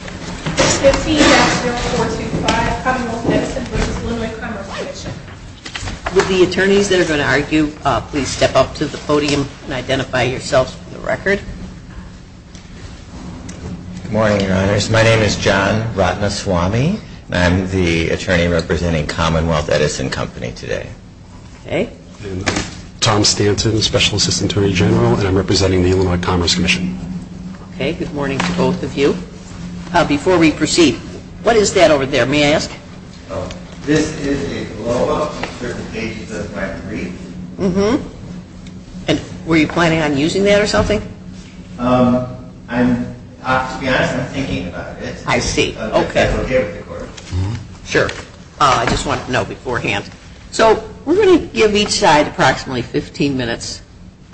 With the attorneys that are going to argue, please step up to the podium and identify yourselves for the record. Good morning, your honors. My name is John Ratnaswamy, and I'm the attorney representing Commonwealth Edison Company today. Tom Stanton, Special Assistant Attorney General, and I'm representing the Illinois Commerce Commission. Okay, good morning to both of you. Before we proceed, what is that over there, may I ask? This is a blow-up for the pages of my brief. And were you planning on using that or something? To be honest, I'm thinking about it. I see, okay. Sure, I just wanted to know beforehand. So we're going to give each side approximately 15 minutes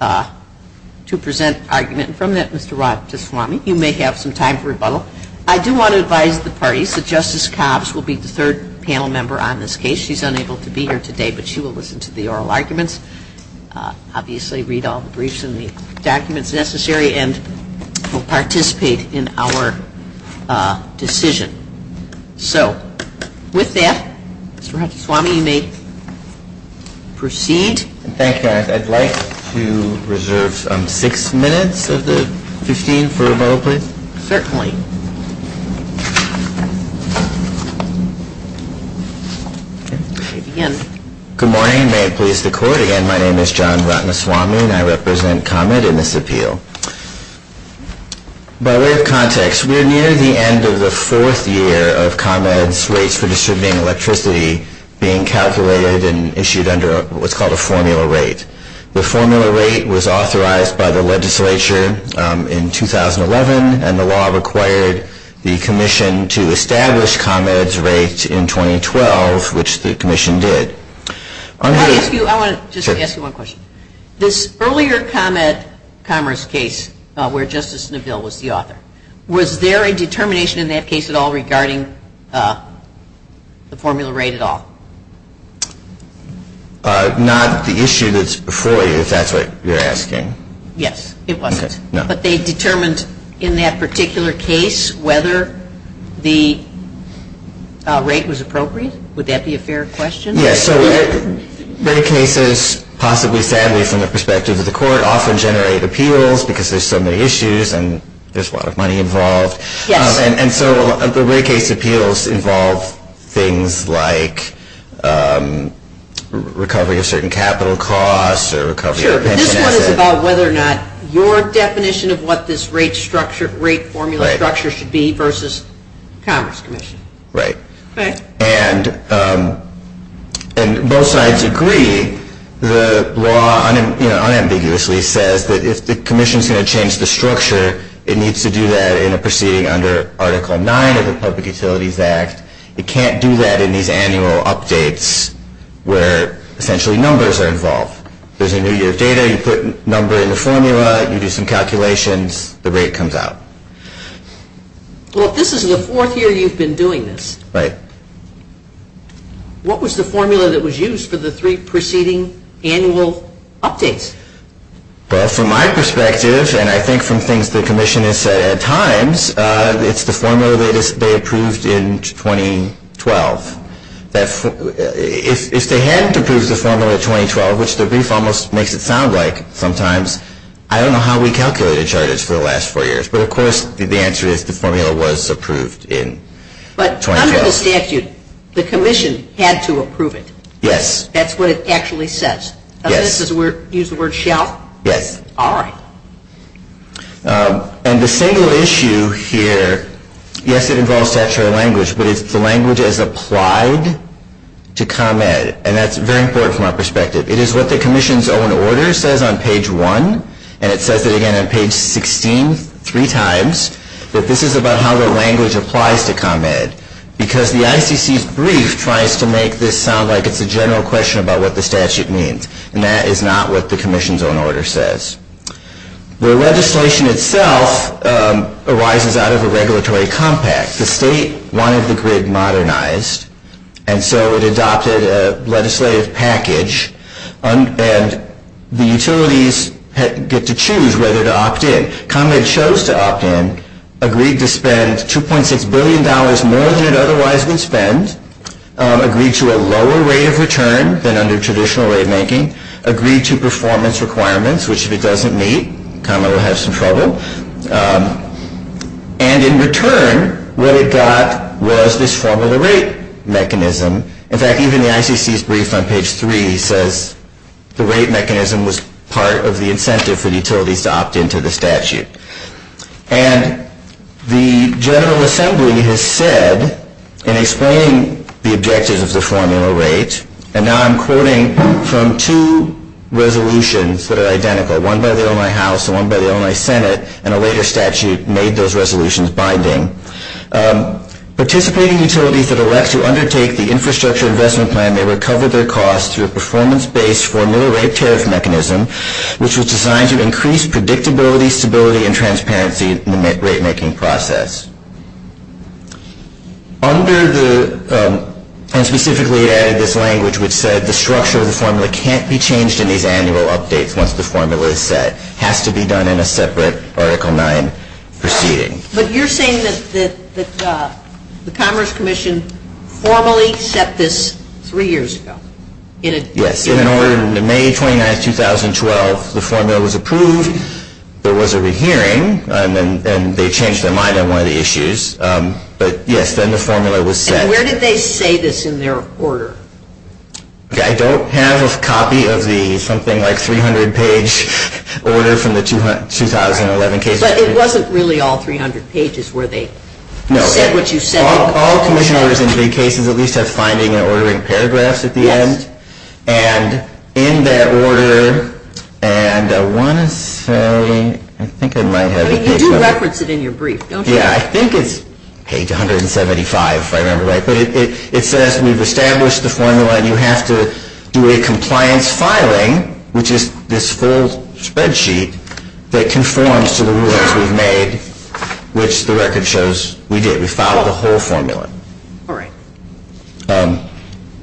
to present argument, and from that, Mr. Ratnaswamy, you may have some time for rebuttal. I do want to advise the parties that Justice Cobbs will be the third panel member on this case. She's unable to be here today, but she will listen to the oral arguments, obviously read all the briefs and the documents necessary, and will participate in our decision. So, with that, Mr. Ratnaswamy, you may proceed. Thank you, Your Honor. I'd like to reserve six minutes of the 15 for rebuttal, please. Certainly. Good morning. May it please the Court, again, my name is John Ratnaswamy and I represent ComEd in this appeal. By way of context, we're near the end of the fourth year of ComEd's rates for distributing electricity being calculated and issued under what's called a formula rate. The formula rate was authorized by the legislature in 2011, and the law required the Commission to establish ComEd's rates in 2012, which the Commission did. I want to just ask you one question. This earlier ComEd commerce case where Justice Neville was the author, was there a determination in that case at all regarding the formula rate at all? Not the issue that's before you, if that's what you're asking. Yes, it wasn't. But they determined in that particular case whether the rate was appropriate? Would that be a fair question? Yes, so rate cases, possibly sadly from the perspective of the Court, often generate appeals because there's so many issues and there's a lot of money involved. Yes. And so the rate case appeals involve things like recovery of certain capital costs or recovery of pension assets. Sure, but this one is about whether or not your definition of what this rate formula structure should be versus the Commerce Commission. Right. And both sides agree, the law unambiguously says that if the Commission's going to change the structure, it needs to do that in a proceeding under Article 9 of the Public Utilities Act. It can't do that in these annual updates where essentially numbers are involved. There's a new year of data, you put number in the formula, you do some calculations, the rate comes out. Well, if this is the fourth year you've been doing this. Right. What was the formula that was used for the three preceding annual updates? Well, from my perspective, and I think from things the Commission has said at times, it's the formula they approved in 2012. If they hadn't approved the formula in 2012, which the brief almost makes it sound like sometimes, I don't know how we calculated charges for the last four years, but of course the answer is the formula was approved in 2012. But under the statute, the Commission had to approve it. Yes. That's what it actually says. Yes. Does it use the word shall? Yes. All right. And the single issue here, yes, it involves statutory language, but it's the language as applied to ComEd. And that's very important from our perspective. It is what the Commission's own order says on page 1, and it says it again on page 16 three times that this is about how the language applies to ComEd. Because the ICC's brief tries to make this sound like it's a general question about what the statute means. And that is not what the Commission's own order says. The legislation itself arises out of a regulatory compact. The state wanted the grid modernized, and so it adopted a legislative package, and the utilities get to choose whether to opt in. ComEd chose to opt in, agreed to spend $2.6 billion more than it otherwise would spend, agreed to a lower rate of return than under traditional rate making, agreed to performance requirements, which if it doesn't meet, ComEd will have some trouble. And in return, what it got was this formula rate mechanism. In fact, even the ICC's brief on page 3 says the rate mechanism was part of the incentive for the utilities to opt in to the statute. And the General Assembly has said in explaining the objectives of the formula rate, and now I'm quoting from two resolutions that are identical, one by the Illinois House and one by the Illinois Senate, and a later statute made those resolutions binding. Participating utilities that elect to undertake the infrastructure investment plan may recover their costs through a performance-based formula rate tariff mechanism, which was designed to increase predictability, stability, and transparency in the rate making process. Under the, and specifically added this language which said the structure of the formula can't be changed in these annual updates once the formula is set. It has to be done in a separate Article 9 proceeding. But you're saying that the Commerce Commission formally set this three years ago? Yes. In May 29, 2012, the formula was approved. There was a rehearing, and they changed that in May. I don't have a copy of the something like 300-page order from the 2011 case. But it wasn't really all 300 pages where they said what you said. No. All commissioners in big cases at least have finding and ordering paragraphs at the end. Yes. And in that order, and I want to say, I think I might have the page number. You do reference it in your brief, don't you? Yeah. I think it's page 175 if I remember right. But it says we've established the formula, and you have to do a compliance filing, which is this full spreadsheet that conforms to the rules we've made, which the record shows we did. We filed the whole formula. All right.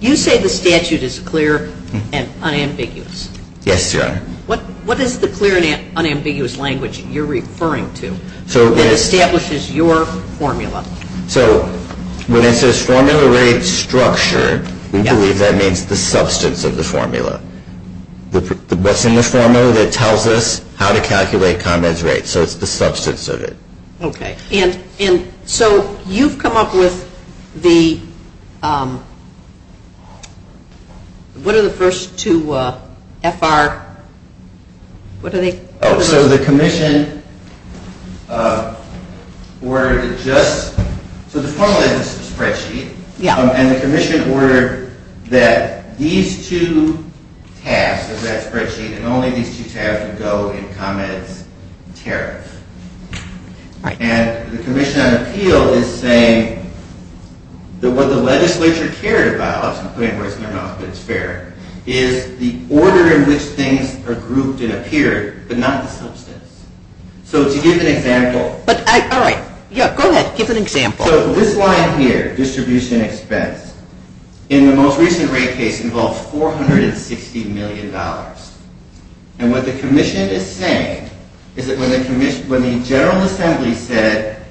You say the statute is clear and unambiguous. Yes, Your Honor. What is the clear and unambiguous language you're referring to that establishes your formula? So when it says formula rate structure, we believe that means the substance of the formula. What's in the formula that tells us how to calculate comments rate. So it's the substance of it. Okay. And so you've come up with the, what are the first two FR, what are they? So the commission ordered just, so the formula is just a spreadsheet. Yeah. And the commission ordered that these two tasks of that spreadsheet and only these two have to go in comments tariff. Right. And the commission on appeal is saying that what the legislature cared about, I'm putting words in their mouth but it's fair, is the order in which things are grouped and appeared but not the substance. So to give an example. But I, all right. Yeah, go ahead. Give an example. So this line here, distribution expense, in the most recent rate case involved $460 million. And what the commission is saying is that when the commission, when the general assembly said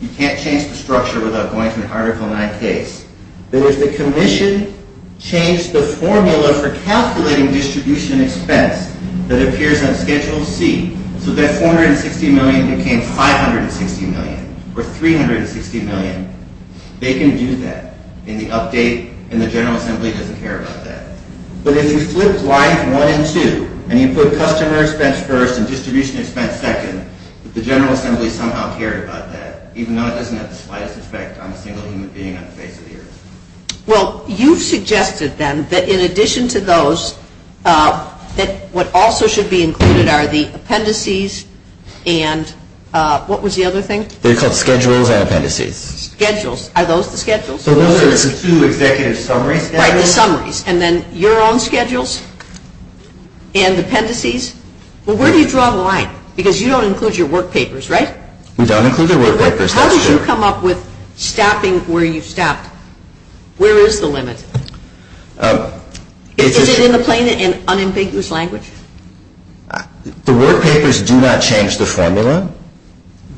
you can't change the structure without going to an article nine case, that if the commission changed the formula for calculating distribution expense that appears on schedule C, so that 460 million became 560 million or 360 million, they can do that in the update and the general assembly doesn't care about that. But if you flip lines one and two and you put customer expense first and distribution expense second, the general assembly somehow cared about that, even though it doesn't have the slightest effect on a single human being on the face of the earth. Well, you've suggested then that in addition to those, that what also should be included are the appendices and what was the other thing? They're called schedules and appendices. Schedules. Are those the schedules? Those are the two executive summaries. Right, the summaries. And then your own schedules and appendices. Well, where do you draw the line? Because you don't include your work papers, right? We don't include the work papers, that's true. How did you come up with staffing where you've staffed? Where is the limit? Is it in the plain and unambiguous language? The work papers do not change the formula.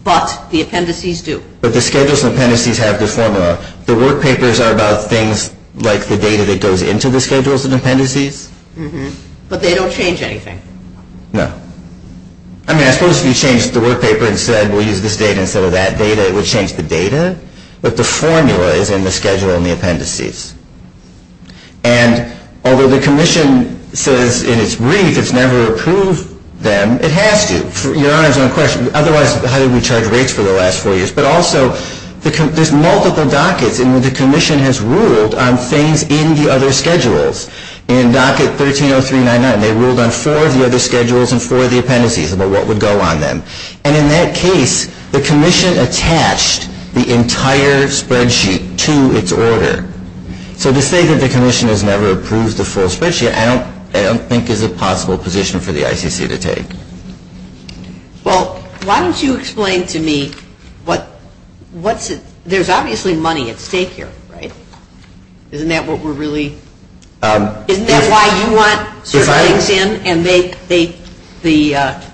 But the appendices do. But the schedules and appendices have the formula. The work papers are about things like the data that goes into the schedules and appendices. But they don't change anything. No. I mean, I suppose if you changed the work paper and said we'll use this data instead of that data, it would change the data. But the formula is in the schedule and the appendices. And although the commission says in its brief it's never approved them, it has to. Otherwise, how did we charge rates for the last four years? But also, there's multiple dockets. And the commission has ruled on things in the other schedules. In docket 130399, they ruled on four of the other schedules and four of the appendices, about what would go on them. And in that case, the commission attached the entire spreadsheet to its order. So to say that the commission has never approved the full spreadsheet, I don't think is a possible position for the ICC to take. Well, why don't you explain to me what's the – there's obviously money at stake here, right? Isn't that what we're really – isn't that why you want certain things in and the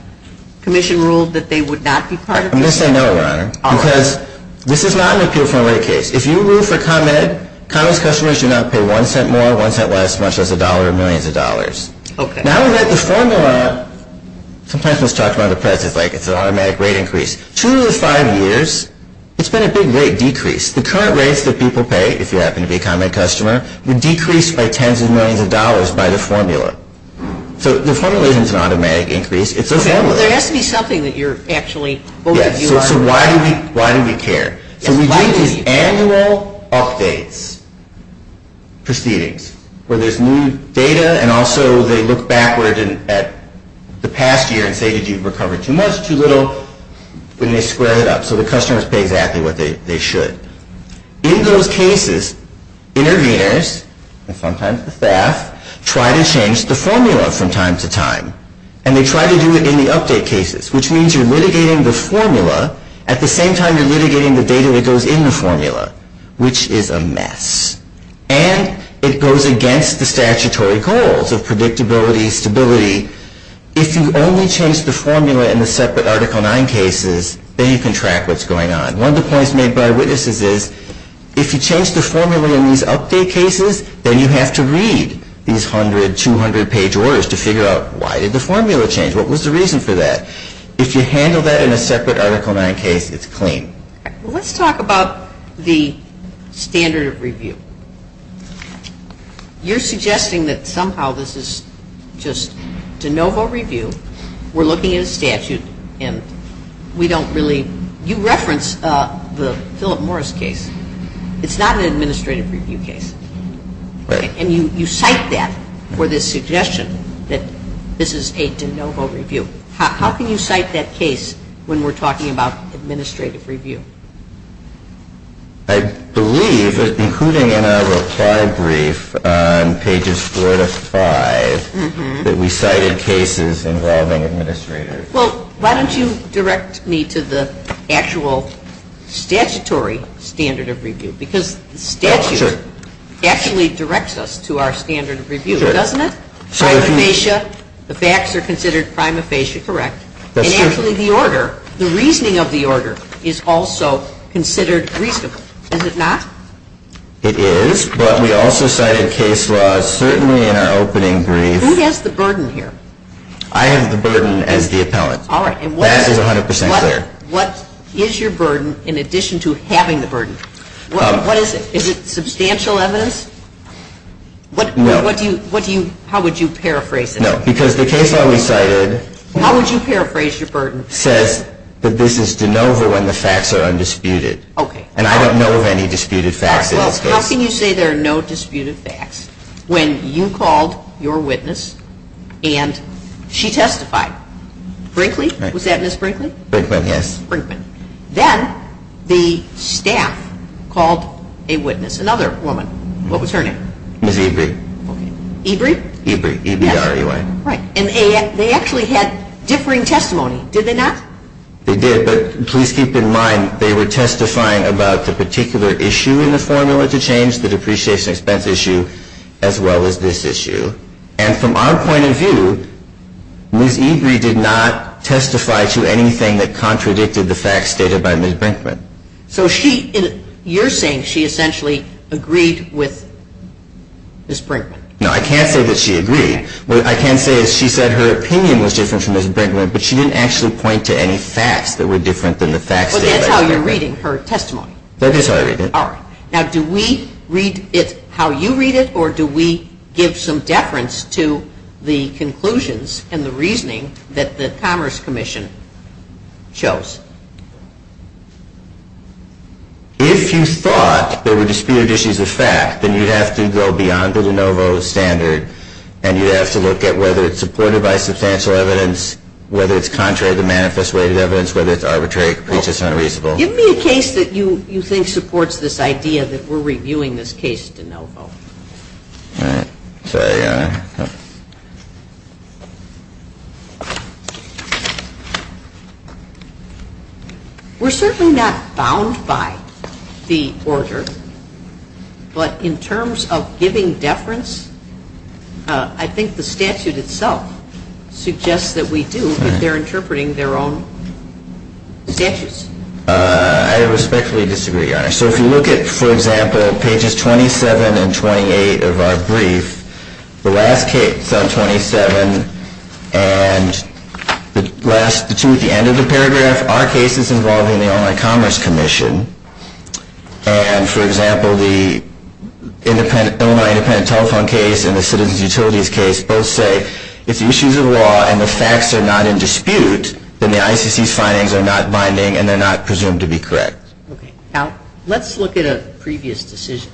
commission ruled that they would not be part of it? I'm going to say no, Your Honor, because this is not an appeal for a rate case. If you rule for ComEd, ComEd's customers do not pay one cent more, one cent less, much less a dollar or millions of dollars. Now that the formula – sometimes when it's talked about in the press, it's like it's an automatic rate increase. Two of the five years, it's been a big rate decrease. The current rates that people pay, if you happen to be a ComEd customer, were decreased by tens of millions of dollars by the formula. So the formula isn't an automatic increase. It's a formula. Okay. Well, there has to be something that you're actually – both of you are – Yes. So why do we care? So we do these annual updates proceedings where there's new data and also they look backward at the past year and say, did you recover too much, too little? And they square it up. So the customers pay exactly what they should. In those cases, interveners, and sometimes the staff, try to change the formula from time to time. And they try to do it in the update cases, which means you're litigating the formula. At the same time, you're litigating the data that goes in the formula, which is a mess. And it goes against the statutory goals of predictability, stability. If you only change the formula in the separate Article 9 cases, then you can track what's going on. One of the points made by our witnesses is, if you change the formula in these update cases, then you have to read these 100, 200-page orders to figure out, why did the formula change? What was the reason for that? If you handle that in a separate Article 9 case, it's clean. Let's talk about the standard of review. You're suggesting that somehow this is just de novo review. We're looking at a statute, and we don't really – you reference the Philip Morris case. It's not an administrative review case. And you cite that for this suggestion that this is a de novo review. How can you cite that case when we're talking about administrative review? I believe, including in our reply brief on pages 4 to 5, that we cited cases involving administrators. Well, why don't you direct me to the actual statutory standard of review? Because the statute actually directs us to our standard of review, doesn't it? Prima facie, the facts are considered prima facie correct. And actually the order, the reasoning of the order, is also considered reasonable. Is it not? It is, but we also cited case laws, certainly in our opening brief. Who has the burden here? I have the burden as the appellant. All right. That is 100 percent clear. What is your burden in addition to having the burden? Is it substantial evidence? No. How would you paraphrase it? No, because the case that we cited says that this is de novo when the facts are undisputed. Okay. And I don't know of any disputed facts in this case. Well, how can you say there are no disputed facts when you called your witness and she testified? Brinkley? Was that Ms. Brinkley? Brinkley, yes. Brinkley. Then the staff called a witness, another woman. What was her name? Ms. Ebrie. Ebrie? Ebrie. E-b-r-e-y. Right. And they actually had differing testimony, did they not? They did, but please keep in mind they were testifying about the particular issue in the formula to change, the depreciation expense issue, as well as this issue. And from our point of view, Ms. Ebrie did not testify to anything that contradicted the facts stated by Ms. Brinkley. So she, you're saying she essentially agreed with Ms. Brinkley. No, I can't say that she agreed. What I can say is she said her opinion was different from Ms. Brinkley, but she didn't actually point to any facts that were different than the facts stated by Ms. Brinkley. Well, that's how you're reading her testimony. That is how I read it. All right. Now, do we read it how you read it, or do we give some deference to the conclusions and the reasoning that the Commerce Commission chose? If you thought there were disputed issues of fact, then you'd have to go beyond the de novo standard, and you'd have to look at whether it's supported by substantial evidence, whether it's contrary to the manifest way of evidence, whether it's arbitrary, which is unreasonable. Give me a case that you think supports this idea that we're reviewing this case de novo. All right. We're certainly not bound by the order, but in terms of giving deference, I think the statute itself suggests that we do if they're interpreting their own statutes. I respectfully disagree, Your Honor. So if you look at, for example, pages 27 and 28 of our brief, the last case on 27, and the two at the end of the paragraph are cases involving the Online Commerce Commission, and, for example, the Illinois Independent Telephone case and the Citizens Utilities case both say if the issues of law and the facts are not in dispute, then the ICC's findings are not binding and they're not presumed to be correct. Okay. Now, let's look at a previous decision.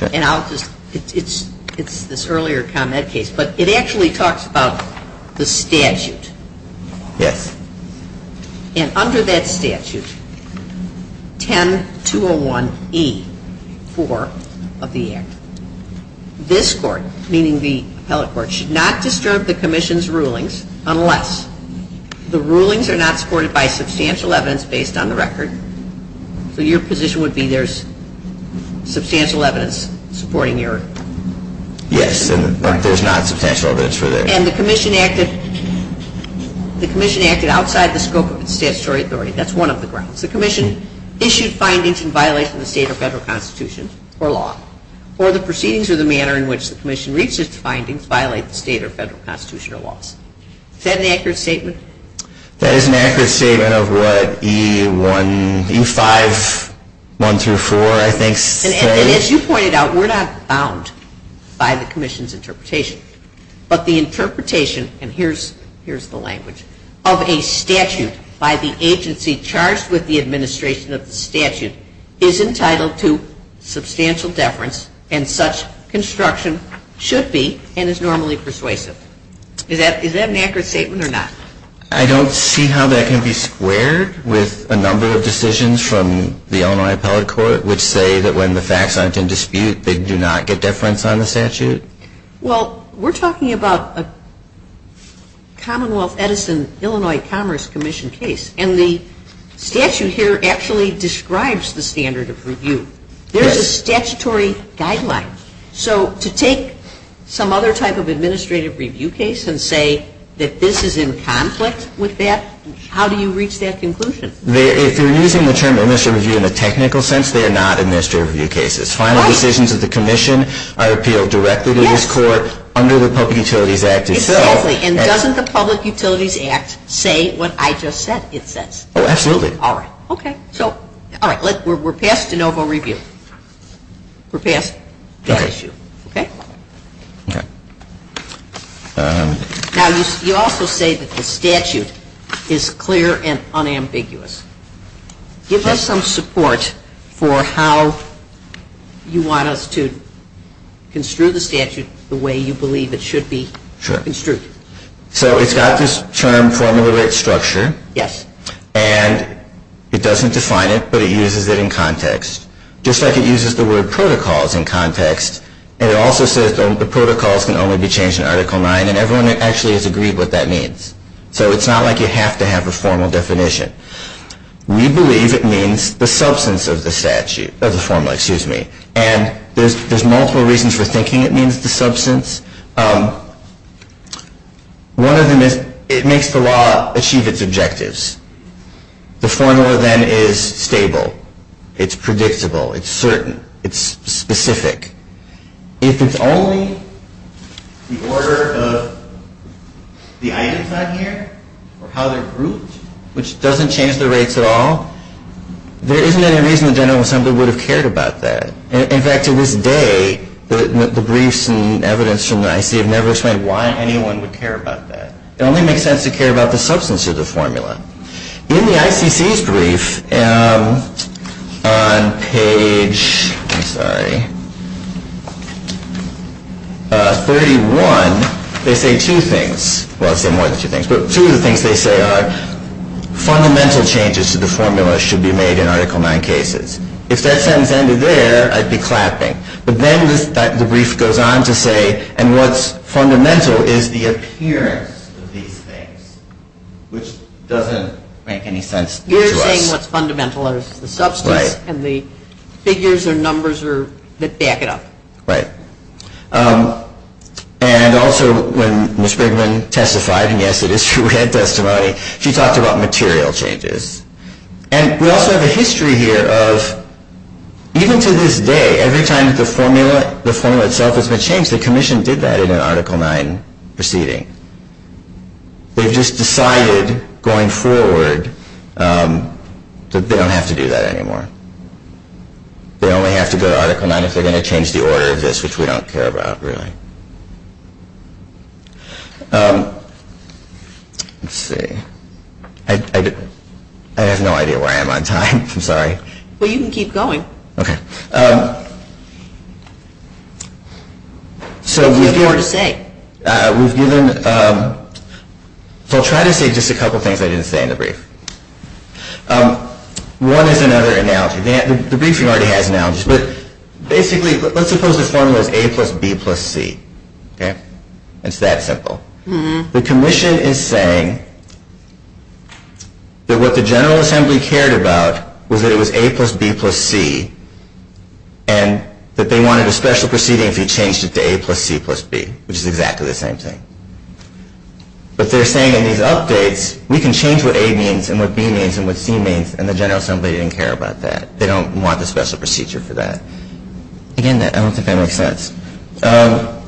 Okay. And I'll just, it's this earlier ComEd case, but it actually talks about the statute. Yes. And under that statute, 10-201E-4 of the Act, this Court, meaning the appellate court, should not disturb the Commission's rulings unless the rulings are not supported by substantial evidence based on the record. So your position would be there's substantial evidence supporting your... Yes, and there's not substantial evidence for that. And the Commission acted outside the scope of its statutory authority. That's one of the grounds. The Commission issued findings in violation of the state or federal constitution or law, or the proceedings or the manner in which the Commission reached its findings violate the state or federal constitution or laws. Is that an accurate statement? That is an accurate statement of what E-5-1-4, I think, says. And as you pointed out, we're not bound by the Commission's interpretation, but the interpretation, and here's the language, of a statute by the agency charged with the administration of the statute is entitled to substantial deference, and such construction should be and is normally persuasive. Is that an accurate statement or not? I don't see how that can be squared with a number of decisions from the Illinois appellate court which say that when the facts aren't in dispute, they do not get deference on the statute. Well, we're talking about a Commonwealth Edison Illinois Commerce Commission case, and the statute here actually describes the standard of review. There's a statutory guideline. So to take some other type of administrative review case and say that this is in conflict with that, how do you reach that conclusion? If you're using the term administrative review in a technical sense, they are not administrative review cases. Final decisions of the Commission are appealed directly to this court under the Public Utilities Act itself. Exactly. And doesn't the Public Utilities Act say what I just said it says? Oh, absolutely. All right. Okay. All right. We're past de novo review. We're past that issue. Okay? Okay. Now, you also say that the statute is clear and unambiguous. Give us some support for how you want us to construe the statute the way you believe it should be construed. Sure. So it's got this term formula rate structure. Yes. And it doesn't define it, but it uses it in context. Just like it uses the word protocols in context, and it also says the protocols can only be changed in Article 9, and everyone actually has agreed what that means. So it's not like you have to have a formal definition. We believe it means the substance of the statute, of the formula, excuse me. And there's multiple reasons for thinking it means the substance. One of them is it makes the law achieve its objectives. The formula then is stable. It's predictable. It's certain. It's specific. If it's only the order of the items on here or how they're grouped, which doesn't change the rates at all, there isn't any reason the General Assembly would have cared about that. In fact, to this day, the briefs and evidence from the ICC have never explained why anyone would care about that. It only makes sense to care about the substance of the formula. In the ICC's brief on page 31, they say two things. Well, it's more than two things. But two of the things they say are fundamental changes to the formula should be made in Article 9 cases. If that sentence ended there, I'd be clapping. But then the brief goes on to say, and what's fundamental is the appearance of these things, which doesn't make any sense to us. You're saying what's fundamental is the substance and the figures or numbers that back it up. Right. And also when Ms. Brigham testified, and yes, it is true we had testimony, she talked about material changes. And we also have a history here of even to this day, every time the formula itself has been changed, the Commission did that in an Article 9 proceeding. They've just decided going forward that they don't have to do that anymore. They only have to go to Article 9 if they're going to change the order of this, which we don't care about, really. Let's see. I have no idea where I am on time. I'm sorry. Well, you can keep going. Okay. You have more to say. Okay. We've given, so I'll try to say just a couple things I didn't say in the brief. One is another analogy. The briefing already has analogies. But basically, let's suppose the formula is A plus B plus C. Okay. It's that simple. The Commission is saying that what the General Assembly cared about was that it was A plus B plus C and that they wanted a special proceeding if you changed it to A plus C plus B, which is exactly the same thing. But they're saying in these updates, we can change what A means and what B means and what C means, and the General Assembly didn't care about that. They don't want the special procedure for that. Again, I don't think that makes sense. Okay.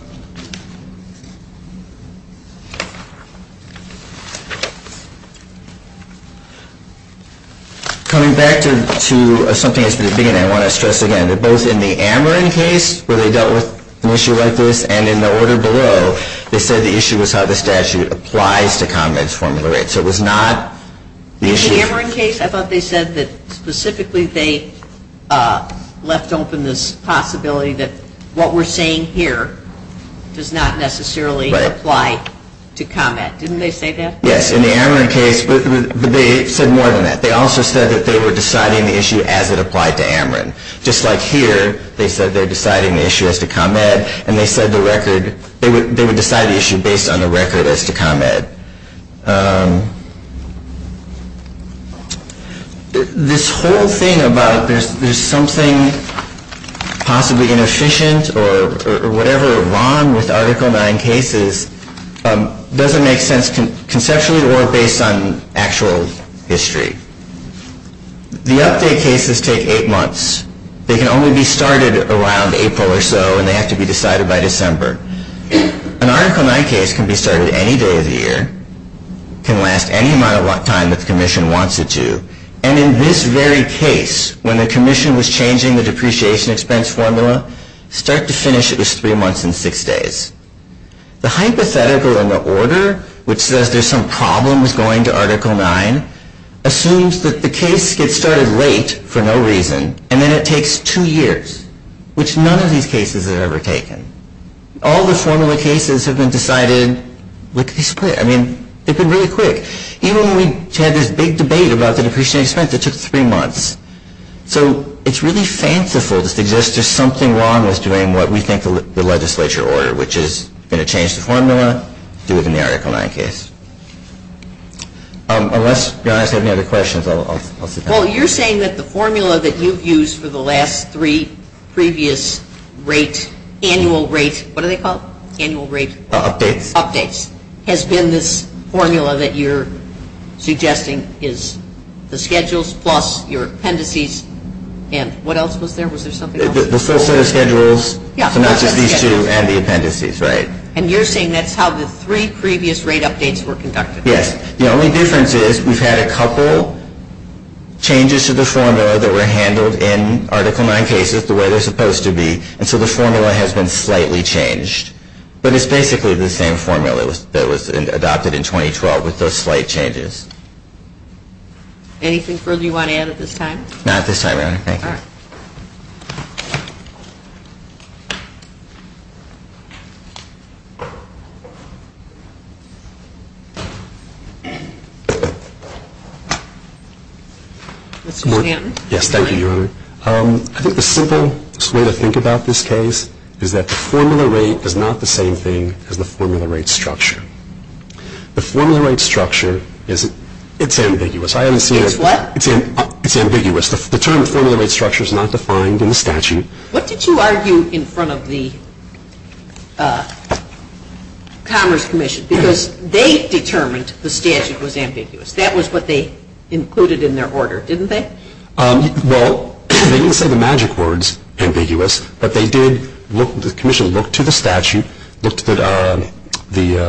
Coming back to something that's been at the beginning, I want to stress again that both in the Ameren case, where they dealt with an issue like this, and in the order below, they said the issue was how the statute applies to convent's formula. So it was not the issue. In the Ameren case, I thought they said that specifically they left open this possibility that what we're saying here does not necessarily apply to convent. Didn't they say that? Yes. In the Ameren case, they said more than that. They also said that they were deciding the issue as it applied to Ameren. Just like here, they said they're deciding the issue as to convent, and they said they would decide the issue based on the record as to convent. This whole thing about there's something possibly inefficient or whatever wrong with Article 9 cases doesn't make sense conceptually or based on actual history. The update cases take eight months. They can only be started around April or so, and they have to be decided by December. An Article 9 case can be started any day of the year. It can last any amount of time that the commission wants it to. And in this very case, when the commission was changing the depreciation expense formula, start to finish it was three months and six days. The hypothetical in the order, which says there's some problem with going to Article 9, assumes that the case gets started late for no reason, and then it takes two years, which none of these cases have ever taken. All the formula cases have been decided, I mean, they've been really quick. Even when we had this big debate about the depreciation expense, it took three months. So it's really fanciful to suggest there's something wrong with doing what we think the legislature ordered, which is going to change the formula, do it in the Article 9 case. Unless you guys have any other questions, I'll sit down. Well, you're saying that the formula that you've used for the last three previous rate, annual rate, what do they call it, annual rate? Updates. Updates has been this formula that you're suggesting is the schedules plus your appendices, and what else was there? Was there something else? The full set of schedules, so not just these two, and the appendices, right. And you're saying that's how the three previous rate updates were conducted? Yes, the only difference is we've had a couple changes to the formula that were handled in Article 9 cases the way they're supposed to be, and so the formula has been slightly changed. But it's basically the same formula that was adopted in 2012 with those slight changes. Anything further you want to add at this time? Not at this time, Your Honor, thank you. All right. Mr. Stanton? Yes, thank you, Your Honor. I think the simplest way to think about this case is that the formula rate is not the same thing as the formula rate structure. The formula rate structure, it's ambiguous. It's what? It's ambiguous. The term formula rate structure is not defined in the statute. What did you argue in front of the Commerce Commission? Because they determined the statute was ambiguous. That was what they included in their order, didn't they? Well, they didn't say the magic words, ambiguous, but the Commission looked to the statute, looked at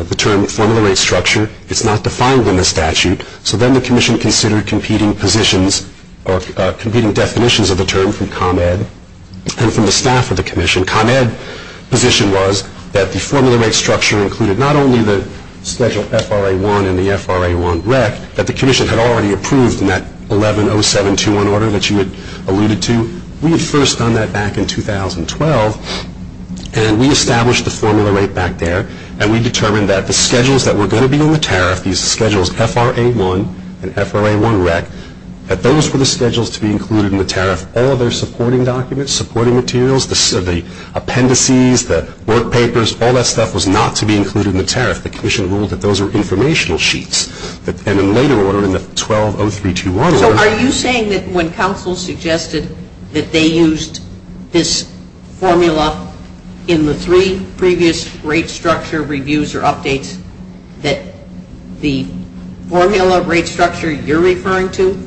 the term formula rate structure. It's not defined in the statute, so then the Commission considered competing positions or competing definitions of the term from ComEd and from the staff of the Commission. ComEd's position was that the formula rate structure included not only the Schedule FRA-1 and the FRA-1 REC, but the Commission had already approved in that 110721 order that you alluded to. We had first done that back in 2012, and we established the formula rate back there, and we determined that the schedules that were going to be in the tariff, these Schedules FRA-1 and FRA-1 REC, that those were the schedules to be included in the tariff. All of their supporting documents, supporting materials, the appendices, the work papers, all that stuff was not to be included in the tariff. The Commission ruled that those were informational sheets. And in later order, in the 120321 order... So are you saying that when counsel suggested that they used this formula in the three previous rate structure reviews or updates, that the formula rate structure you're referring to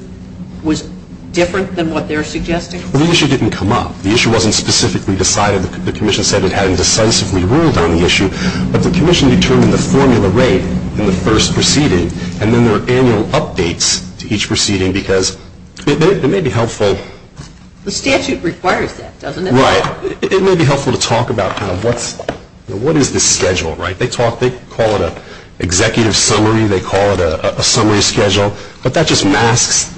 was different than what they're suggesting? Well, the issue didn't come up. The issue wasn't specifically decided. The Commission said it had indecisively ruled on the issue. But the Commission determined the formula rate in the first proceeding, and then there were annual updates to each proceeding because it may be helpful... The statute requires that, doesn't it? Right. It may be helpful to talk about kind of what is this schedule, right? They call it an executive summary. They call it a summary schedule. But that just masks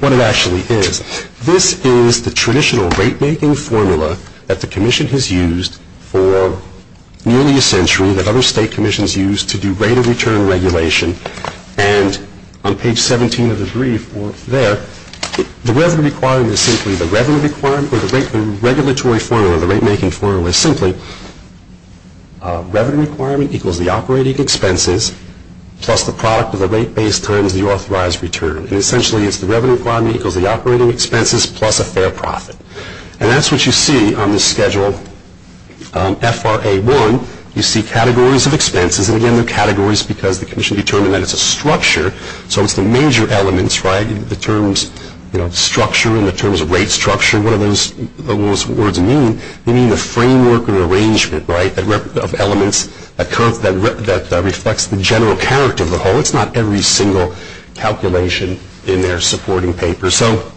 what it actually is. This is the traditional rate-making formula that the Commission has used for nearly a century, that other state commissions use to do rate of return regulation. And on page 17 of the brief there, the regulatory formula, the rate-making formula, is simply revenue requirement equals the operating expenses plus the product of the rate base times the authorized return. And essentially it's the revenue requirement equals the operating expenses plus a fair profit. And that's what you see on the schedule FRA1. You see categories of expenses. And, again, they're categories because the Commission determined that it's a structure. So it's the major elements, right? The terms, you know, structure and the terms of rate structure. What do those words mean? They mean the framework or arrangement, right, of elements that reflects the general character of the whole. It's not every single calculation in their supporting paper. So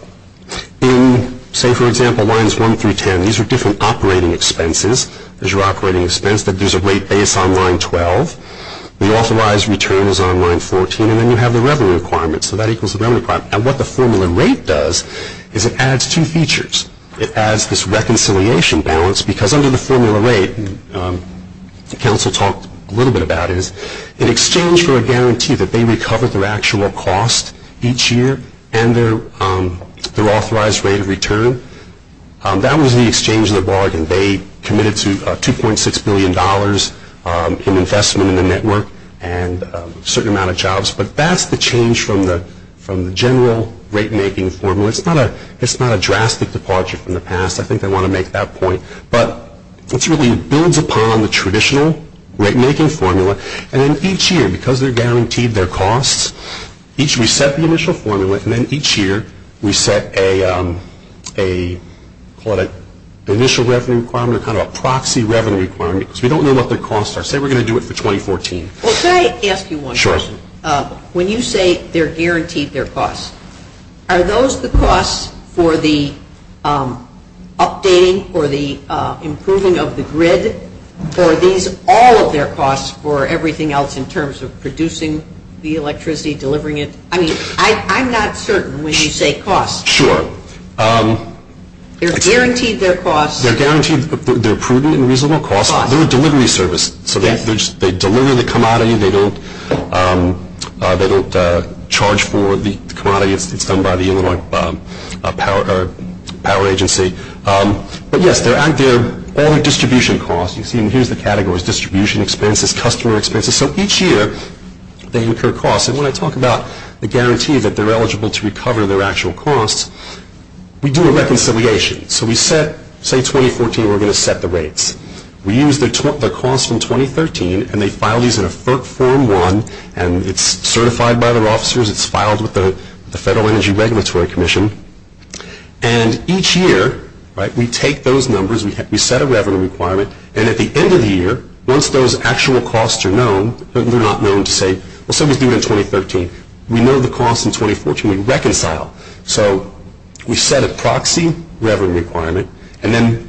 in, say, for example, lines 1 through 10, these are different operating expenses. There's your operating expense. There's a rate base on line 12. The authorized return is on line 14. And then you have the revenue requirement. So that equals the revenue requirement. And what the formula rate does is it adds two features. It adds this reconciliation balance because under the formula rate, and Council talked a little bit about this, in exchange for a guarantee that they recover their actual cost each year and their authorized rate of return, that was the exchange of the bargain. They committed to $2.6 billion in investment in the network and a certain amount of jobs. But that's the change from the general rate-making formula. It's not a drastic departure from the past. I think they want to make that point. But it really builds upon the traditional rate-making formula. And then each year, because they're guaranteed their costs, each year we set the initial formula, and then each year we set a, call it an initial revenue requirement or kind of a proxy revenue requirement because we don't know what their costs are. Say we're going to do it for 2014. Well, can I ask you one question? Sure. When you say they're guaranteed their costs, are those the costs for the updating or the improving of the grid, or are these all of their costs for everything else in terms of producing the electricity, delivering it? I mean, I'm not certain when you say costs. Sure. They're guaranteed their costs. They're guaranteed. They're prudent and reasonable costs. They're a delivery service, so they deliver the commodity. They don't charge for the commodity. It's done by the Illinois Power Agency. But, yes, they're out there. All the distribution costs, you see, and here's the categories, distribution expenses, customer expenses. So each year they incur costs. And when I talk about the guarantee that they're eligible to recover their actual costs, we do a reconciliation. So we set, say 2014, we're going to set the rates. We use their costs from 2013, and they file these in a Form 1, and it's certified by their officers. It's filed with the Federal Energy Regulatory Commission. And each year we take those numbers. We set a revenue requirement. And at the end of the year, once those actual costs are known, they're not known to say, well, somebody's doing it in 2013. We know the costs in 2014. We reconcile. So we set a proxy revenue requirement. And then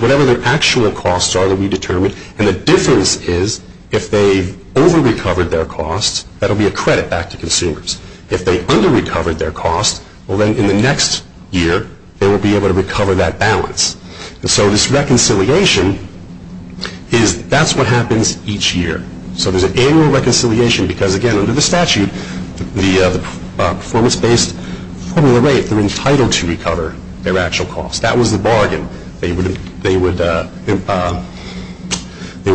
whatever their actual costs are, they'll be determined. And the difference is if they over-recovered their costs, that will be a credit back to consumers. If they under-recovered their costs, well, then in the next year they will be able to recover that balance. And so this reconciliation is, that's what happens each year. So there's an annual reconciliation because, again, under the statute, the performance-based formula rate, they're entitled to recover their actual costs. That was the bargain. They would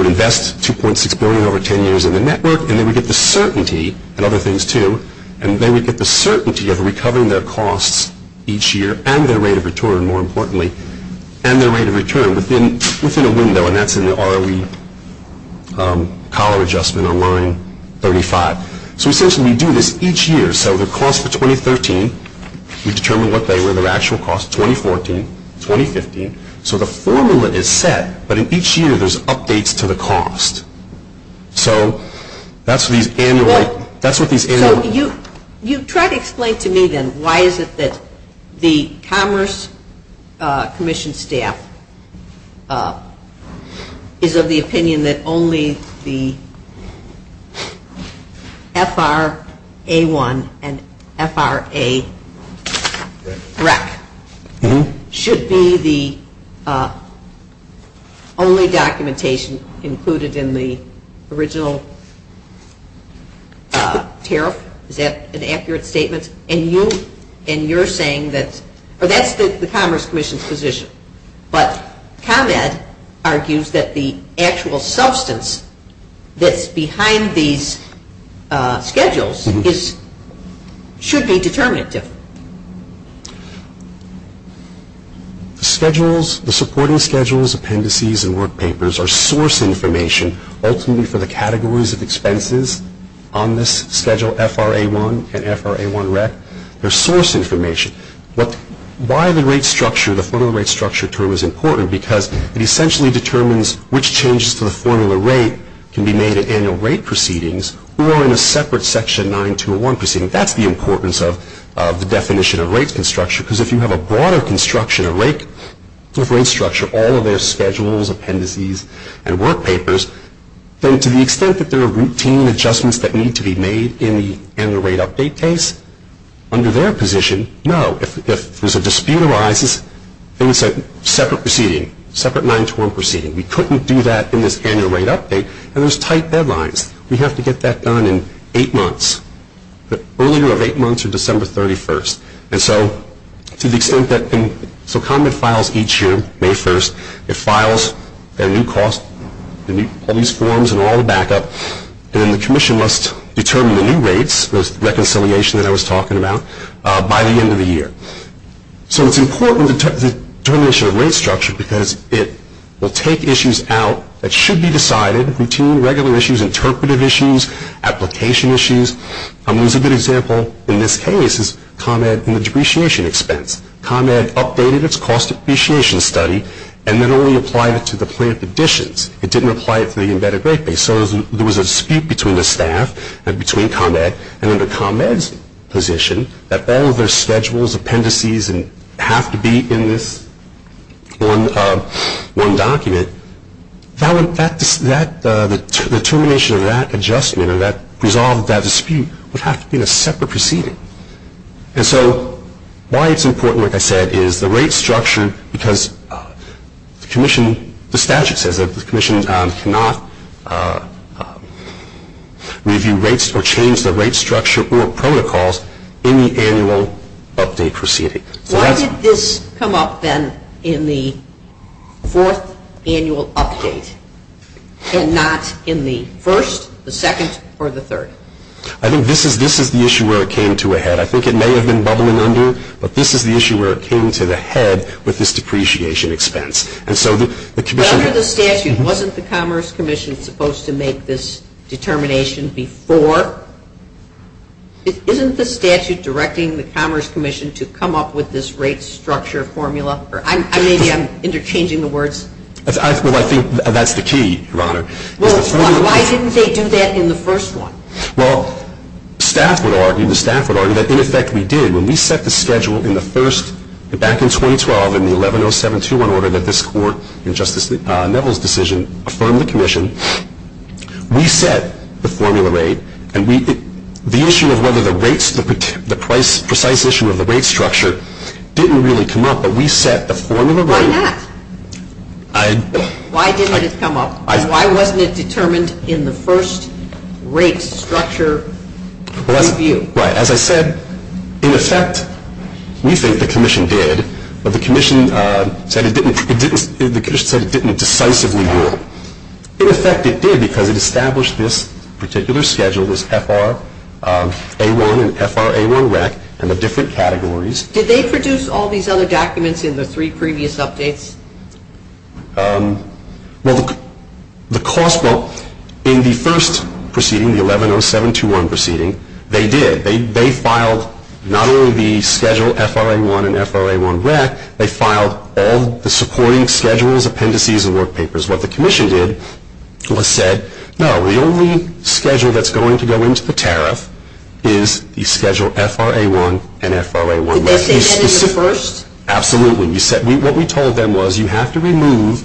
invest $2.6 billion over 10 years in the network, and they would get the certainty, and other things too, and they would get the certainty of recovering their costs each year and their rate of return, more importantly, and their rate of return within a window, and that's in the ROE collar adjustment on line 35. So essentially we do this each year. We set their costs for 2013. We determine what they were, their actual costs, 2014, 2015. So the formula is set, but in each year there's updates to the cost. So that's what these annual – that's what these annual – an FRA rec should be the only documentation included in the original tariff. Is that an accurate statement? And you're saying that – or that's the Commerce Commission's position. But ComEd argues that the actual substance that's behind these schedules is – should be determinative. Schedules – the supporting schedules, appendices, and work papers are source information, ultimately for the categories of expenses on this schedule, FRA-1 and FRA-1 rec. They're source information. Why the rate structure – the formula rate structure term is important because it essentially determines which changes to the formula rate can be made at annual rate proceedings or in a separate Section 9201 proceeding. That's the importance of the definition of rate structure because if you have a broader construction of rate structure, all of their schedules, appendices, and work papers, then to the extent that there are routine adjustments that need to be made in the annual rate update case, under their position, no. If there's a dispute arises, then it's a separate proceeding, separate 921 proceeding. We couldn't do that in this annual rate update, and there's tight deadlines. We have to get that done in eight months. The earlier of eight months are December 31st. And so to the extent that – so ComEd files each year, May 1st. It files their new cost, all these forms and all the backup, and the commission must determine the new rates, the reconciliation that I was talking about, by the end of the year. So it's important to determine the rate structure because it will take issues out that should be decided, routine, regular issues, interpretive issues, application issues. There's a good example in this case is ComEd in the depreciation expense. ComEd updated its cost depreciation study and then only applied it to the plant additions. It didn't apply it to the embedded rate base. And so there was a dispute between the staff and between ComEd, and under ComEd's position that all of their schedules, appendices have to be in this one document. The determination of that adjustment or that resolve of that dispute would have to be in a separate proceeding. And so why it's important, like I said, is the rate structure because the commission – review rates or change the rate structure or protocols in the annual update proceeding. Why did this come up then in the fourth annual update and not in the first, the second, or the third? I think this is the issue where it came to a head. I think it may have been bubbling under, but this is the issue where it came to the head with this depreciation expense. Under the statute, wasn't the Commerce Commission supposed to make this determination before? Isn't the statute directing the Commerce Commission to come up with this rate structure formula? Maybe I'm interchanging the words. Well, I think that's the key, Your Honor. Well, why didn't they do that in the first one? Well, the staff would argue that in effect we did. When we set the schedule in the first, back in 2012, in the 110721 order that this Court, in Justice Neville's decision, affirmed the commission, we set the formula rate. And the issue of whether the rates, the precise issue of the rate structure didn't really come up, but we set the formula rate. Why not? Why didn't it come up? Why wasn't it determined in the first rate structure review? Right. As I said, in effect, we think the commission did, but the commission said it didn't decisively rule. In effect, it did because it established this particular schedule, this FR-A1 and FR-A1-REC, and the different categories. Did they produce all these other documents in the three previous updates? Well, in the first proceeding, the 110721 proceeding, they did. They filed not only the Schedule FR-A1 and FR-A1-REC, they filed all the supporting schedules, appendices, and work papers. What the commission did was said, no, the only schedule that's going to go into the tariff is the Schedule FR-A1 and FR-A1-REC. Did they say that in the first? Absolutely. What we told them was, you have to remove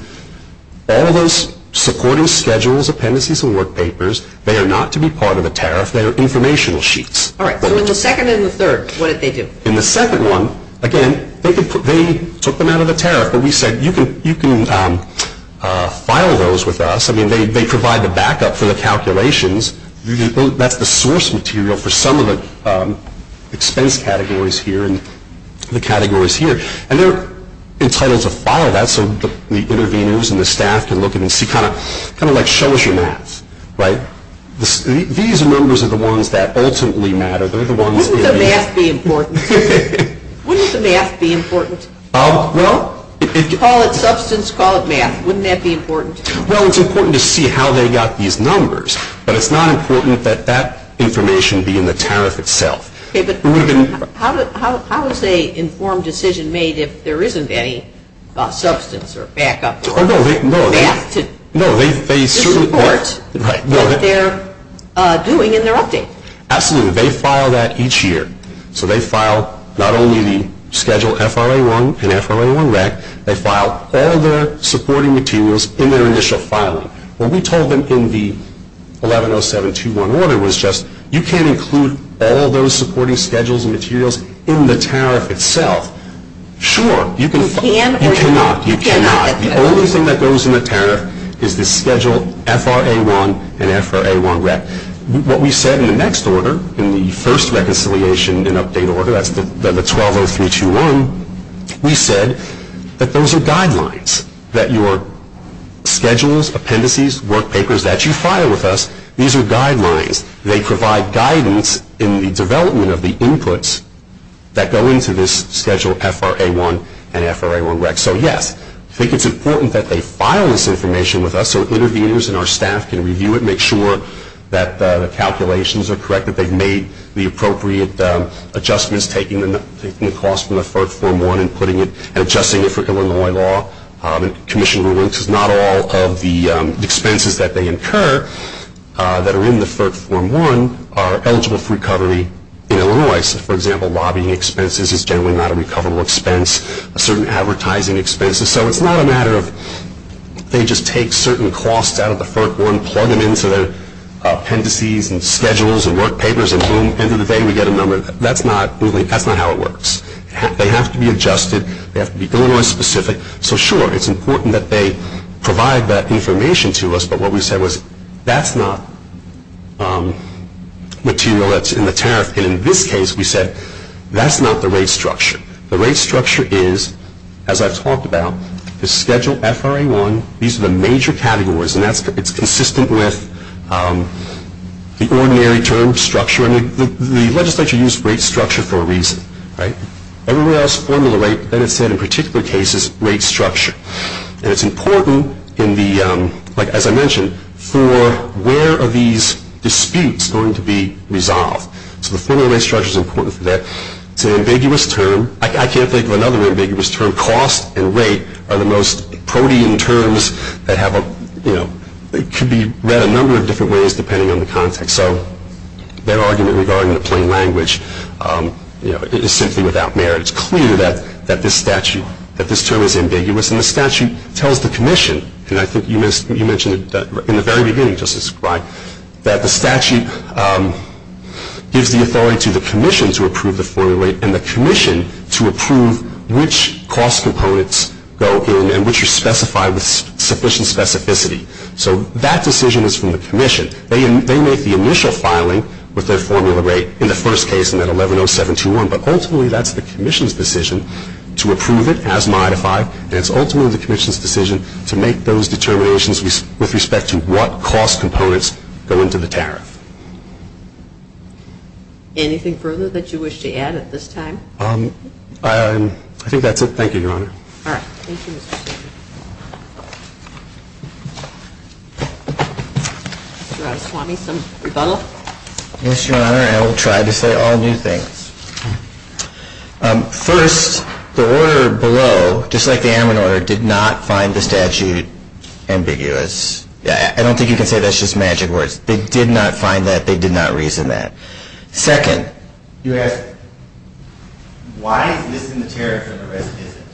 all those supporting schedules, appendices, and work papers. They are not to be part of the tariff. They are informational sheets. All right. So in the second and the third, what did they do? In the second one, again, they took them out of the tariff, but we said, you can file those with us. I mean, they provide the backup for the calculations. That's the source material for some of the expense categories here and the categories here. And they're entitled to file that so the interveners and the staff can look at it and see, kind of like show us your math, right? These numbers are the ones that ultimately matter. Wouldn't the math be important? Wouldn't the math be important? Call it substance, call it math. Wouldn't that be important? Well, it's important to see how they got these numbers, but it's not important that that information be in the tariff itself. Okay, but how is an informed decision made if there isn't any substance or backup or math to support what they're doing in their update? Absolutely. They file that each year. So they file not only the Schedule FRA1 and FRA1-REC, they file all their supporting materials in their initial filing. What we told them in the 110721 order was just, you can't include all those supporting schedules and materials in the tariff itself. Sure, you can. You can or you cannot? You cannot. The only thing that goes in the tariff is the Schedule FRA1 and FRA1-REC. What we said in the next order, in the first reconciliation and update order, that's the 120321, we said that those are guidelines, that your schedules, appendices, work papers that you file with us, these are guidelines. They provide guidance in the development of the inputs that go into this Schedule FRA1 and FRA1-REC. So, yes, I think it's important that they file this information with us so interveners and our staff can review it, make sure that the calculations are correct, that they've made the appropriate adjustments, taking the cost from the FERC Form 1 and adjusting it for Illinois law. Commission rulings is not all of the expenses that they incur that are in the FERC Form 1 are eligible for recovery in Illinois. So, for example, lobbying expenses is generally not a recoverable expense, certain advertising expenses. So it's not a matter of they just take certain costs out of the FERC 1, plug them into their appendices and schedules and work papers, and boom, end of the day we get a number. That's not how it works. They have to be adjusted. They have to be Illinois specific. So, sure, it's important that they provide that information to us, but what we said was that's not material that's in the tariff. And in this case, we said that's not the rate structure. The rate structure is, as I've talked about, is Schedule FRA 1. These are the major categories, and it's consistent with the ordinary term structure, and the legislature used rate structure for a reason. Everywhere else, formula rate, but then it said in particular cases, rate structure. And it's important in the, like as I mentioned, for where are these disputes going to be resolved. So the formula rate structure is important for that. It's an ambiguous term. I can't think of another ambiguous term. Cost and rate are the most protean terms that have a, you know, could be read a number of different ways depending on the context. So that argument regarding the plain language, you know, is simply without merit. It's clear that this statute, that this term is ambiguous, and the statute tells the commission, and I think you mentioned it in the very beginning, Justice Frey, that the statute gives the authority to the commission to approve the formula rate and the commission to approve which cost components go in and which are specified with sufficient specificity. So that decision is from the commission. They make the initial filing with their formula rate in the first case in that 110721, but ultimately that's the commission's decision to approve it as modified, and it's ultimately the commission's decision to make those determinations with respect to what cost components go into the tariff. Anything further that you wish to add at this time? I think that's it. Thank you, Your Honor. All right. Thank you, Mr. Stegman. Mr. Araswamy, some rebuttal? Yes, Your Honor. I will try to say all new things. First, the order below, just like the Ammon order, did not find the statute ambiguous. I don't think you can say that's just magic words. They did not find that. They did not reason that. Second, you asked why is this in the tariff and the rest isn't.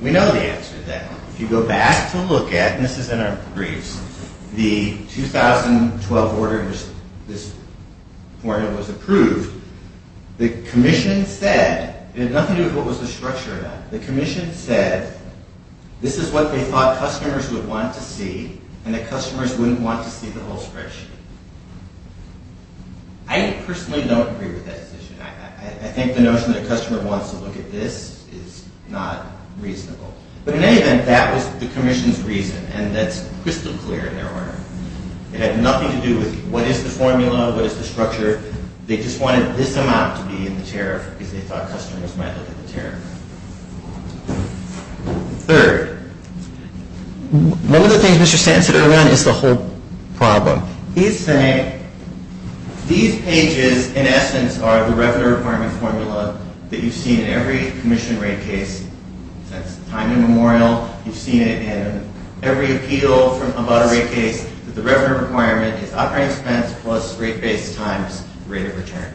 We know the answer to that one. If you go back to look at, and this is in our briefs, the 2012 order in which this formula was approved, the commission said it had nothing to do with what was the structure of that. The commission said this is what they thought customers would want to see and that customers wouldn't want to see the whole spreadsheet. I personally don't agree with that decision. I think the notion that a customer wants to look at this is not reasonable. But in any event, that was the commission's reason, and that's crystal clear in their order. It had nothing to do with what is the formula, what is the structure. They just wanted this amount to be in the tariff because they thought customers might look at the tariff. Third, one of the things Mr. Stanton said early on is the whole problem. He's saying these pages, in essence, are the revenue requirement formula that you've seen in every commission rate case. That's the time in Memorial. You've seen it in every appeal about a rate case. The revenue requirement is operating expense plus rate base times rate of return.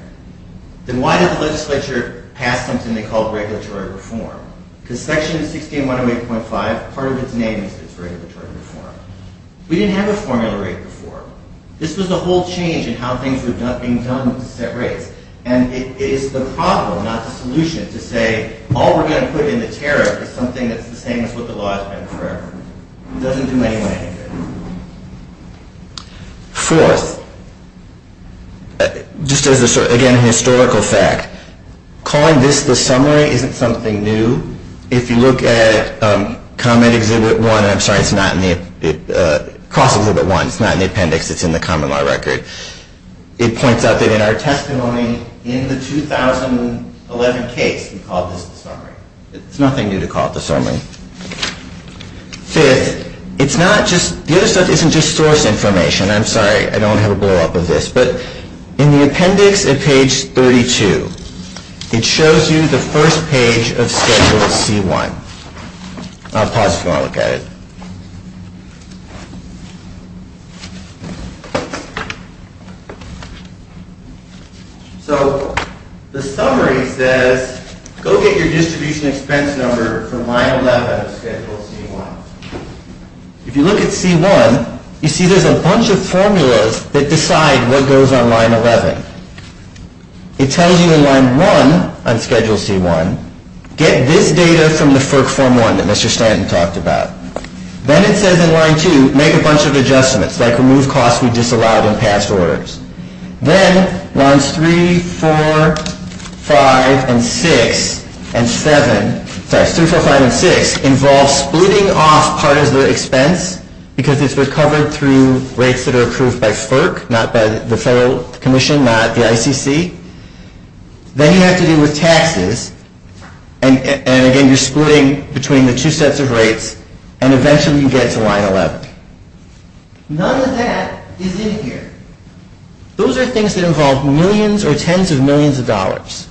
Then why did the legislature pass something they called regulatory reform? Because section 16108.5, part of its name is regulatory reform. We didn't have a formula rate before. This was a whole change in how things were being done to set rates, and it is the problem, not the solution, to say all we're going to put in the tariff is something that's the same as what the law has been forever. It doesn't do anyone any good. Fourth, just as a historical fact, calling this the summary isn't something new. If you look at cross-exhibit 1, it's not in the appendix. It's in the common law record. It points out that in our testimony in the 2011 case, we called this the summary. It's nothing new to call it the summary. Fifth, the other stuff isn't just source information. I'm sorry, I don't have a blowup of this. But in the appendix at page 32, it shows you the first page of Schedule C-1. I'll pause if you want to look at it. So the summary says, go get your distribution expense number from line 11 of Schedule C-1. If you look at C-1, you see there's a bunch of formulas that decide what goes on line 11. It tells you in line 1 on Schedule C-1, get this data from the Form 1 that Mr. Stanton talked about. Then it says in line 2, make a bunch of adjustments, like remove costs we disallowed in past orders. Then lines 3, 4, 5, and 6, and 7, sorry, 3, 4, 5, and 6, involve splitting off part of the expense because it's recovered through rates that are approved by FERC, not by the Federal Commission, not the ICC. Then you have to deal with taxes, and again, you're splitting between the two sets of rates, and eventually you get to line 11. None of that is in here. Those are things that involve millions or tens of millions of dollars.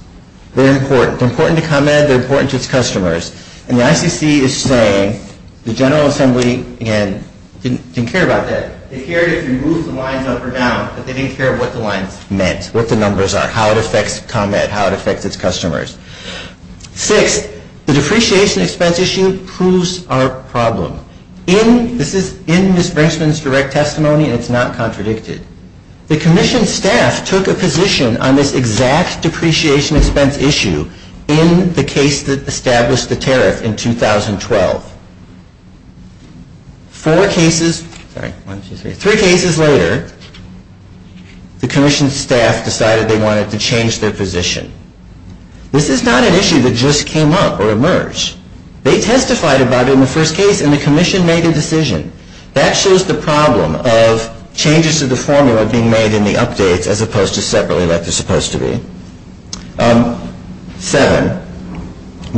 They're important. They're important to ComEd. They're important to its customers. And the ICC is saying the General Assembly, again, didn't care about that. They cared if you moved the lines up or down, but they didn't care what the lines meant, what the numbers are, how it affects ComEd, how it affects its customers. Sixth, the depreciation expense issue proves our problem. This is in Ms. Brinkman's direct testimony, and it's not contradicted. The Commission staff took a position on this exact depreciation expense issue in the case that established the tariff in 2012. Three cases later, the Commission staff decided they wanted to change their position. This is not an issue that just came up or emerged. They testified about it in the first case, and the Commission made a decision. That shows the problem of changes to the formula being made in the updates as opposed to separately like they're supposed to be. Seven,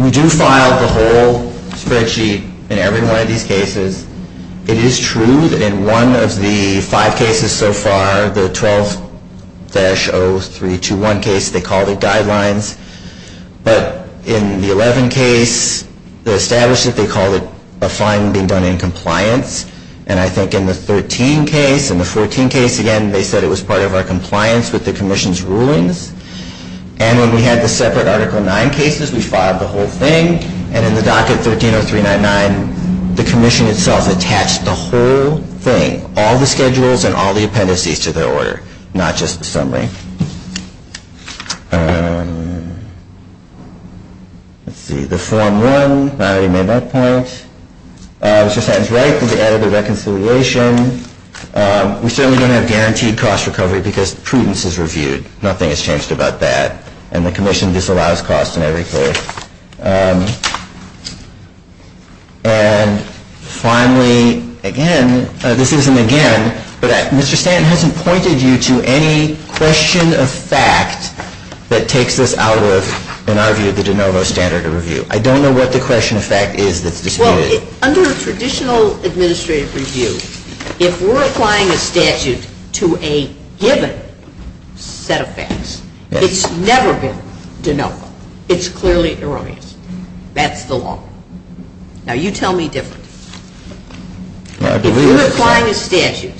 we do file the whole spreadsheet in every one of these cases. It is true that in one of the five cases so far, the 12-0321 case, they called it guidelines. But in the 11 case, the establishment, they called it a fine being done in compliance. And I think in the 13 case and the 14 case, again, they said it was part of our compliance with the Commission's rulings. And when we had the separate Article 9 cases, we filed the whole thing. And in the docket 130399, the Commission itself attached the whole thing, all the schedules and all the appendices to their order, not just the summary. Let's see, the Form 1, I already made my point. Mr. Stanton's right that we added the reconciliation. We certainly don't have guaranteed cost recovery because prudence is reviewed. Nothing has changed about that. And the Commission disallows cost in every case. And finally, again, this isn't again, but Mr. Stanton hasn't pointed you to any question of fact that takes this out of, in our view, the de novo standard of review. I don't know what the question of fact is that's disputed. Well, under traditional administrative review, if we're applying a statute to a given set of facts, it's never been de novo. It's clearly erroneous. That's the law. Now, you tell me differently. If you're applying a statute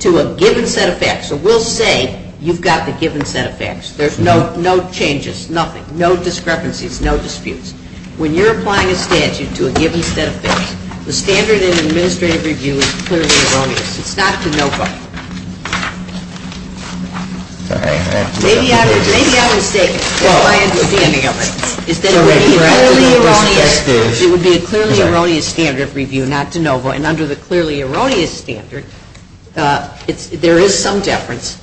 to a given set of facts, so we'll say you've got the given set of facts. There's no changes, nothing, no discrepancies, no disputes. When you're applying a statute to a given set of facts, the standard in administrative review is clearly erroneous. It's not de novo. Maybe I'm mistaken. That's my understanding of it. It would be a clearly erroneous standard of review, not de novo. And under the clearly erroneous standard, there is some deference,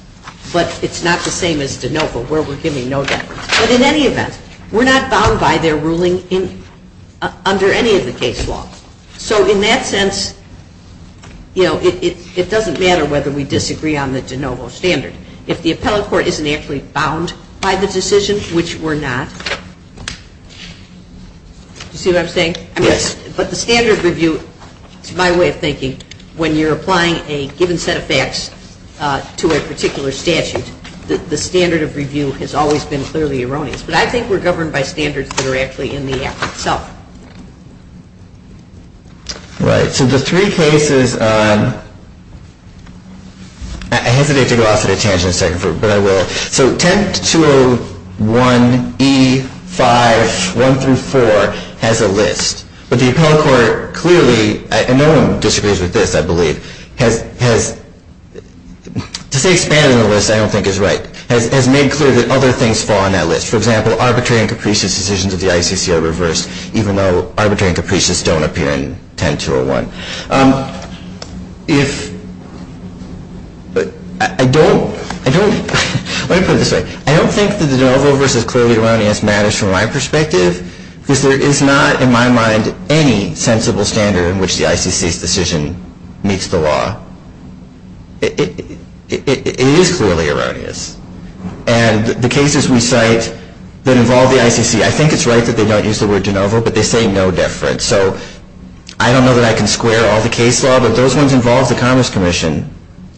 but it's not the same as de novo where we're giving no deference. But in any event, we're not bound by their ruling under any of the case laws. So in that sense, you know, it doesn't matter whether we disagree on the de novo standard. If the appellate court isn't actually bound by the decision, which we're not, you see what I'm saying? Yes. But the standard of review, it's my way of thinking, when you're applying a given set of facts to a particular statute, the standard of review has always been clearly erroneous. But I think we're governed by standards that are actually in the Act itself. Right. So the three cases, I hesitate to go off on a tangent for a second, but I will. So 10-201E5-1-4 has a list. But the appellate court clearly, and no one disagrees with this, I believe, has, to say expanded on the list I don't think is right, has made clear that other things fall on that list. For example, arbitrary and capricious decisions of the ICC are reversed, even though arbitrary and capricious don't appear in 10-201. If, I don't, let me put it this way. I don't think that the de novo versus clearly erroneous matters from my perspective, because there is not in my mind any sensible standard in which the ICC's decision meets the law. It is clearly erroneous. And the cases we cite that involve the ICC, I think it's right that they don't use the word de novo, but they say no deference. So I don't know that I can square all the case law, but those ones involve the Commerce Commission.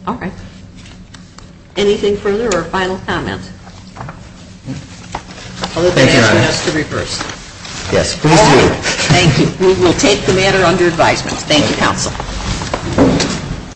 All right. Anything further or final comments? Thank you, Your Honor. Yes, please do. Thank you. Thank you, counsel.